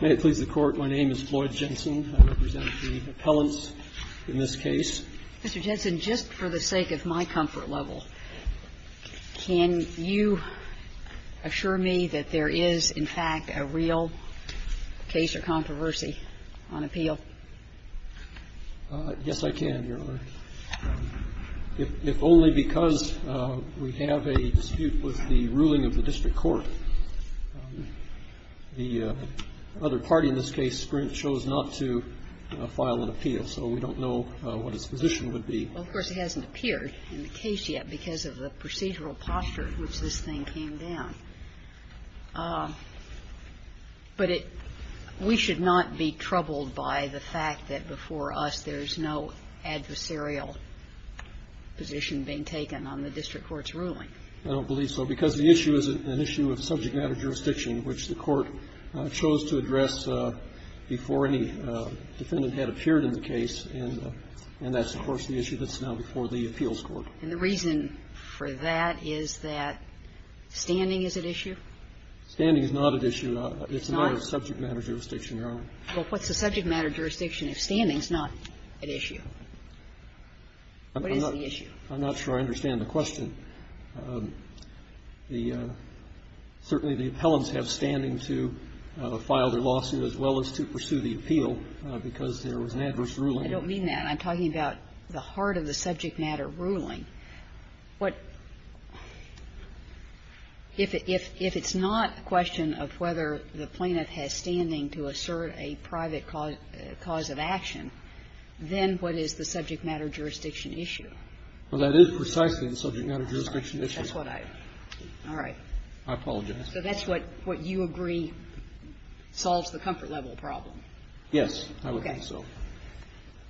May it please the Court, my name is Floyd Jensen. I represent the appellants in this case. Mr. Jensen, just for the sake of my comfort level, can you assure me that there is, in fact, a real case or controversy on appeal? Yes, I can, Your Honor. If only because we have a dispute with the ruling of the district court. The other party in this case, Sprint, chose not to file an appeal, so we don't know what its position would be. Well, of course, it hasn't appeared in the case yet because of the procedural posture in which this thing came down. But it we should not be troubled by the fact that before us there's no adversarial position being taken on the district court's ruling. I don't believe so, because the issue is an issue of subject matter jurisdiction, which the Court chose to address before any defendant had appeared in the case. And that's, of course, the issue that's now before the appeals court. And the reason for that is that standing is at issue? Standing is not at issue. It's a matter of subject matter jurisdiction, Your Honor. Well, what's the subject matter jurisdiction if standing is not at issue? What is the issue? I'm not sure I understand the question. The – certainly the appellants have standing to file their lawsuit as well as to pursue the appeal because there was an adverse ruling. I don't mean that. I'm talking about the heart of the subject matter ruling. What – if it's not a question of whether the plaintiff has standing to assert a private cause of action, then what is the subject matter jurisdiction issue? Well, that is precisely the subject matter jurisdiction issue. That's what I – all right. I apologize. So that's what you agree solves the comfort level problem? Yes, I would think so.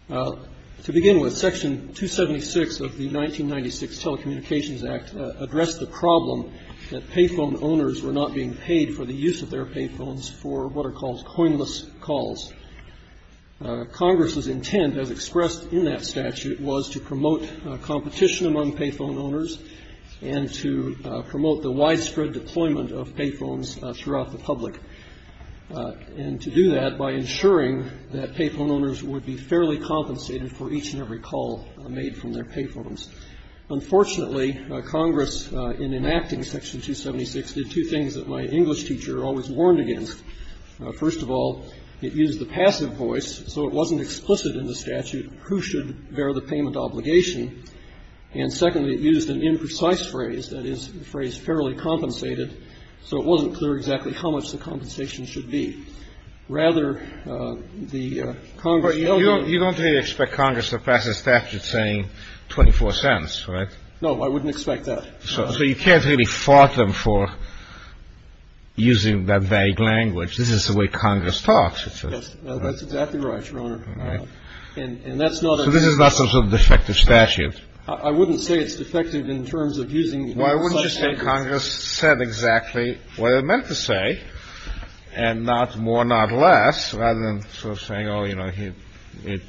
To begin with, Section 276 of the 1996 Telecommunications Act addressed the problem that payphone owners were not being paid for the use of their payphones for what are called coinless calls. Congress's intent, as expressed in that statute, was to promote competition among payphone owners and to promote the widespread deployment of payphones throughout the public. And to do that by ensuring that payphone owners would be fairly compensated for each and every call made from their payphones. Unfortunately, Congress, in enacting Section 276, did two things that my English teacher always warned against. First of all, it used the passive voice, so it wasn't explicit in the statute who should bear the payment obligation. And secondly, it used an imprecise phrase, that is, the phrase fairly compensated, so it wasn't clear exactly how much the compensation should be. Rather, the Congress ---- But you don't really expect Congress to pass a statute saying 24 cents, right? No, I wouldn't expect that. So you can't really fault them for using that vague language. This is the way Congress talks, it says. Yes, that's exactly right, Your Honor. All right. And that's not a ---- So this is not some sort of defective statute. I wouldn't say it's defective in terms of using such ---- No, I wouldn't just say Congress said exactly what it meant to say, and not more, not less, rather than sort of saying, oh, you know, it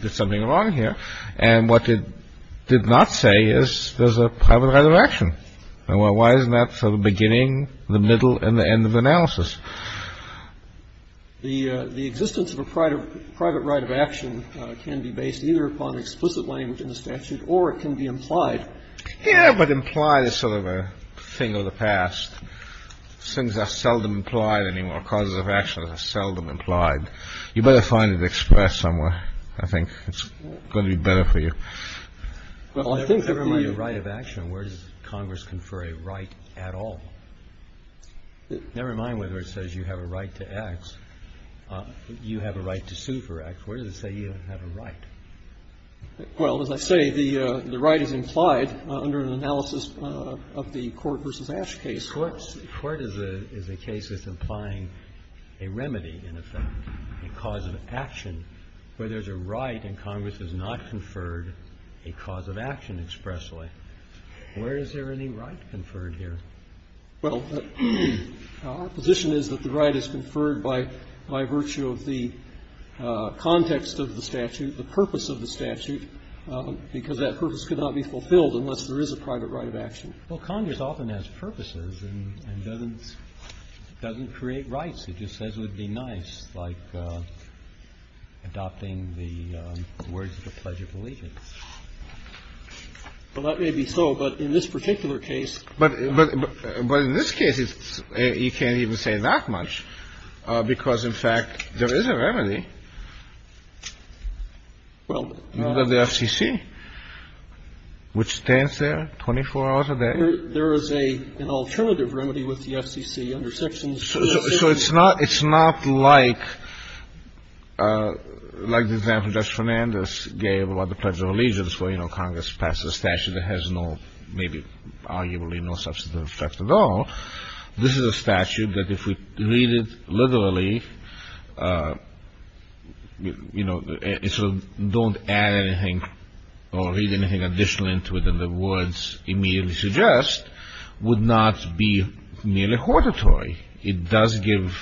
did something wrong here. And what it did not say is there's a private right of action. And why isn't that sort of beginning, the middle, and the end of the analysis? The existence of a private right of action can be based either upon explicit language in the statute or it can be implied. Yes, but implied is sort of a thing of the past. Things are seldom implied anymore. Causes of action are seldom implied. You better find it expressed somewhere. I think it's going to be better for you. Well, I think that the right of action, where does Congress confer a right at all? Never mind whether it says you have a right to X, you have a right to sue for X. Where does it say you have a right? Well, as I say, the right is implied under an analysis of the Court v. Ash case. The Court is a case that's implying a remedy, in effect, a cause of action, where there's a right and Congress has not conferred a cause of action expressly. Where is there any right conferred here? Well, our position is that the right is conferred by virtue of the context of the statute, the purpose of the statute, because that purpose could not be fulfilled unless there is a private right of action. Well, Congress often has purposes and doesn't create rights. It just says it would be nice, like adopting the words of the Pledge of Allegiance. Well, that may be so, but in this particular case. But in this case, you can't even say that much because, in fact, there is a remedy. Well. Under the FCC, which stands there 24 hours a day. There is an alternative remedy with the FCC under sections. So it's not like the example Judge Fernandez gave about the Pledge of Allegiance where, you know, Congress passes a statute that has no, maybe arguably no substantive effect at all. This is a statute that, if we read it literally, you know, don't add anything or read anything additional into it than the words immediately suggest, would not be nearly hortatory. It does give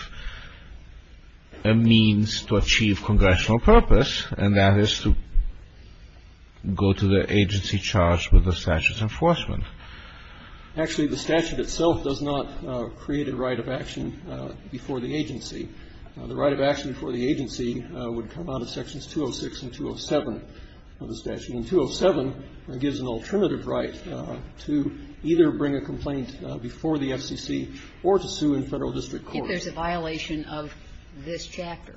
a means to achieve congressional purpose, and that is to go to the agency charged with the statute's enforcement. Actually, the statute itself does not create a right of action before the agency. The right of action for the agency would come out of sections 206 and 207 of the statute. And 207 gives an alternative right to either bring a complaint before the FCC or to sue in Federal district court. If there's a violation of this chapter.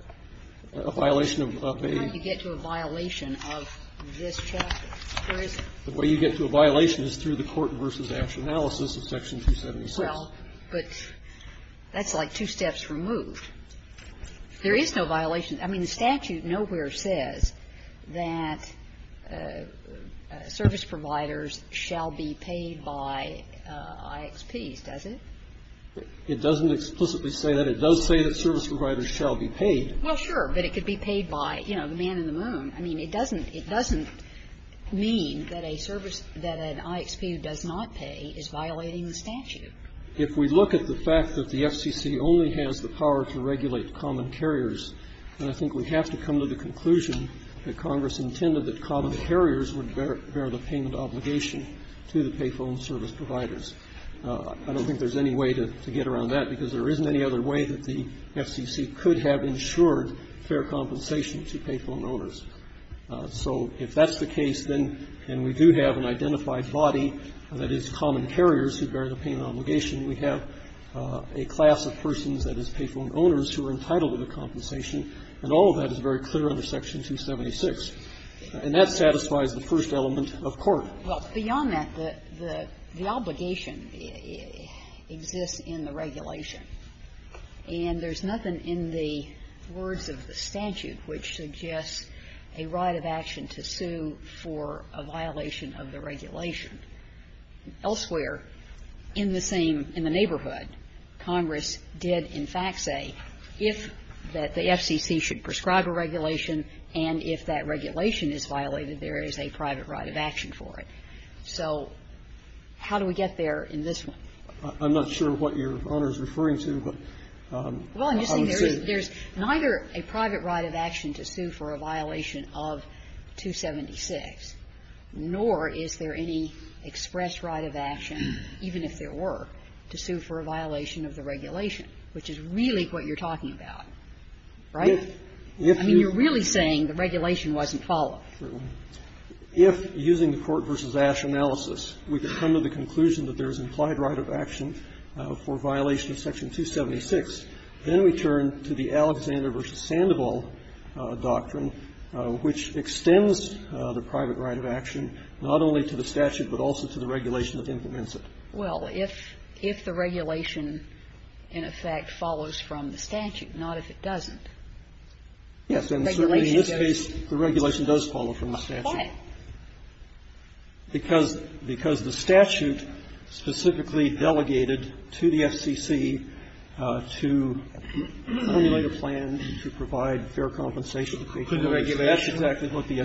A violation of a. How do you get to a violation of this chapter? Where is it? The way you get to a violation is through the court versus action analysis of section 276. Well, but that's like two steps removed. There is no violation. I mean, the statute nowhere says that service providers shall be paid by IXPs, does it? It doesn't explicitly say that. It does say that service providers shall be paid. Well, sure. But it could be paid by, you know, the man in the moon. I mean, it doesn't mean that a service that an IXP does not pay is violating the statute. If we look at the fact that the FCC only has the power to regulate common carriers, then I think we have to come to the conclusion that Congress intended that common carriers would bear the payment obligation to the pay phone service providers. I don't think there's any way to get around that because there isn't any other way that the FCC could have ensured fair compensation to pay phone owners. So if that's the case, then we do have an identified body that is common carriers who bear the payment obligation. We have a class of persons that is pay phone owners who are entitled to the compensation. And all of that is very clear under section 276. And that satisfies the first element of court. Well, beyond that, the obligation exists in the regulation. And there's nothing in the words of the statute which suggests a right of action to sue for a violation of the regulation. Elsewhere, in the same ñ in the neighborhood, Congress did, in fact, say if that the FCC should prescribe a regulation and if that regulation is violated, there is a private right of action for it. So how do we get there in this one? I'm not sure what Your Honor is referring to, but I would say ñ Well, I'm just saying there's neither a private right of action to sue for a violation of 276, nor is there any express right of action, even if there were, to sue for a violation of the regulation, which is really what you're talking about, right? I mean, you're really saying the regulation wasn't followed. If, using the Court v. Ash analysis, we could come to the conclusion that there is implied right of action for violation of section 276, then we turn to the Alexander v. Sandoval doctrine, which extends the private right of action not only to the statute, but also to the regulation that implements it. Well, if the regulation, in effect, follows from the statute, not if it doesn't, the regulation does follow. It doesn't follow from the statute. Why? Because the statute specifically delegated to the FCC to formulate a plan to provide fair compensation to create a right. Could the regulation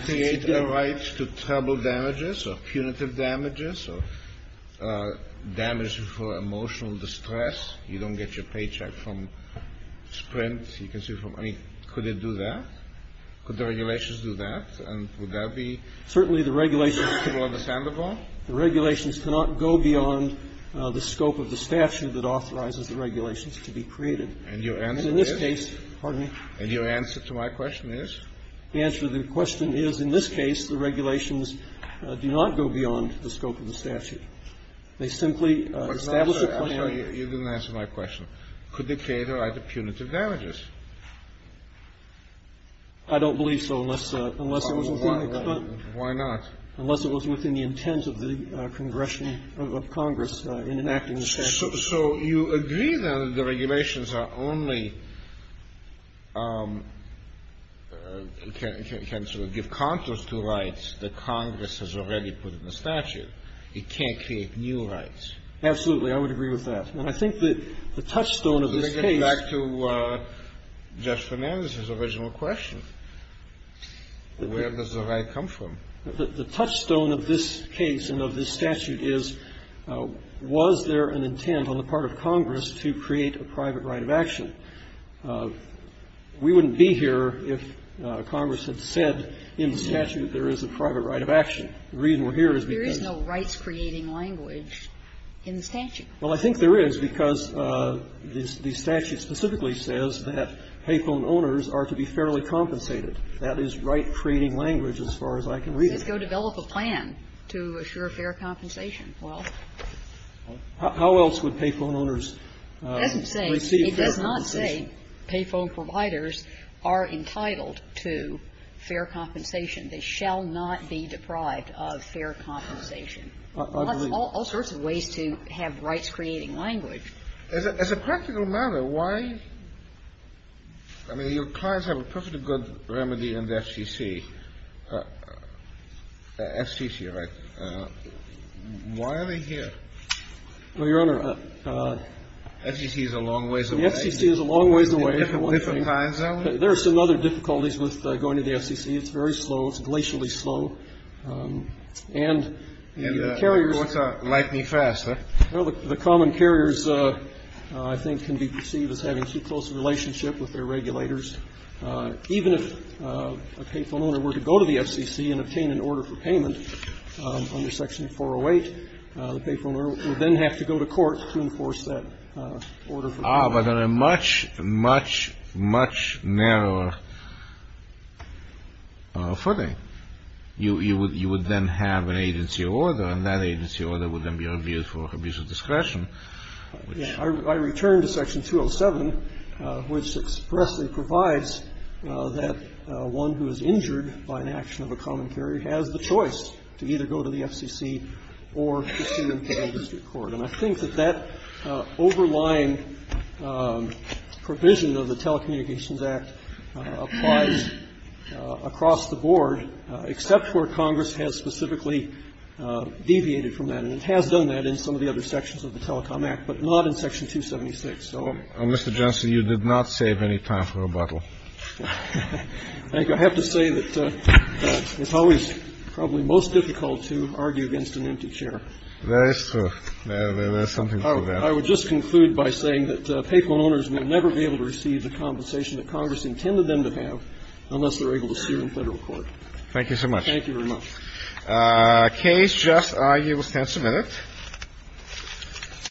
create a right to terrible damages or punitive damages or damages for emotional distress? You don't get your paycheck from Sprint. You can sue for money. Could it do that? Could the regulations do that? And would that be understandable? Certainly, the regulations cannot go beyond the scope of the statute that authorizes the regulations to be created. And your answer is? In this case, pardon me? And your answer to my question is? The answer to the question is, in this case, the regulations do not go beyond the scope of the statute. They simply establish a plan. I'm sorry. You didn't answer my question. Could they create a right to punitive damages? I don't believe so, unless it was within the extent. Why not? Unless it was within the intent of the Congress in enacting the statute. So you agree, then, that the regulations are only can sort of give contours to rights that Congress has already put in the statute. It can't create new rights. Absolutely. I would agree with that. And I think that the touchstone of this case. Let me get back to Judge Fernandez's original question. Where does the right come from? The touchstone of this case and of this statute is, was there an intent on the part of Congress to create a private right of action? We wouldn't be here if Congress had said in the statute there is a private right of action. The reason we're here is because. There is no rights-creating language in the statute. Well, I think there is, because the statute specifically says that payphone owners are to be fairly compensated. That is right-creating language as far as I can read it. It says go develop a plan to assure fair compensation. Well. How else would payphone owners receive fair compensation? It doesn't say, it does not say payphone providers are entitled to fair compensation. They shall not be deprived of fair compensation. I believe so. All sorts of ways to have rights-creating language. As a practical matter, why? I mean, your clients have a perfectly good remedy in the FCC. FCC, right? Why are they here? Well, Your Honor. FCC is a long ways away. The FCC is a long ways away. There are some other difficulties with going to the FCC. It's very slow. It's glacially slow. And the carriers. And the courts are lightning fast, huh? Well, the common carriers, I think, can be perceived as having too close a relationship with their regulators. Even if a payphone owner were to go to the FCC and obtain an order for payment under Section 408, the payphone owner would then have to go to court to enforce that order for payment. Ah, but on a much, much, much narrower footing. You would then have an agency order, and that agency order would then be reviewed for abuse of discretion. Yeah. I return to Section 207, which expressly provides that one who is injured by an action of a common carrier has the choice to either go to the FCC or to an internal district court. And I think that that overlying provision of the Telecommunications Act applies across the board, except where Congress has specifically deviated from that. And it has done that in some of the other sections of the Telecom Act, but not in Section 276. Mr. Johnson, you did not save any time for rebuttal. I think I have to say that it's always probably most difficult to argue against an empty chair. That is true. There is something to that. I would just conclude by saying that payphone owners will never be able to receive the compensation that Congress intended them to have unless they're able to sue in Federal court. Thank you so much. Thank you very much. Case just argued. We'll stand for a minute.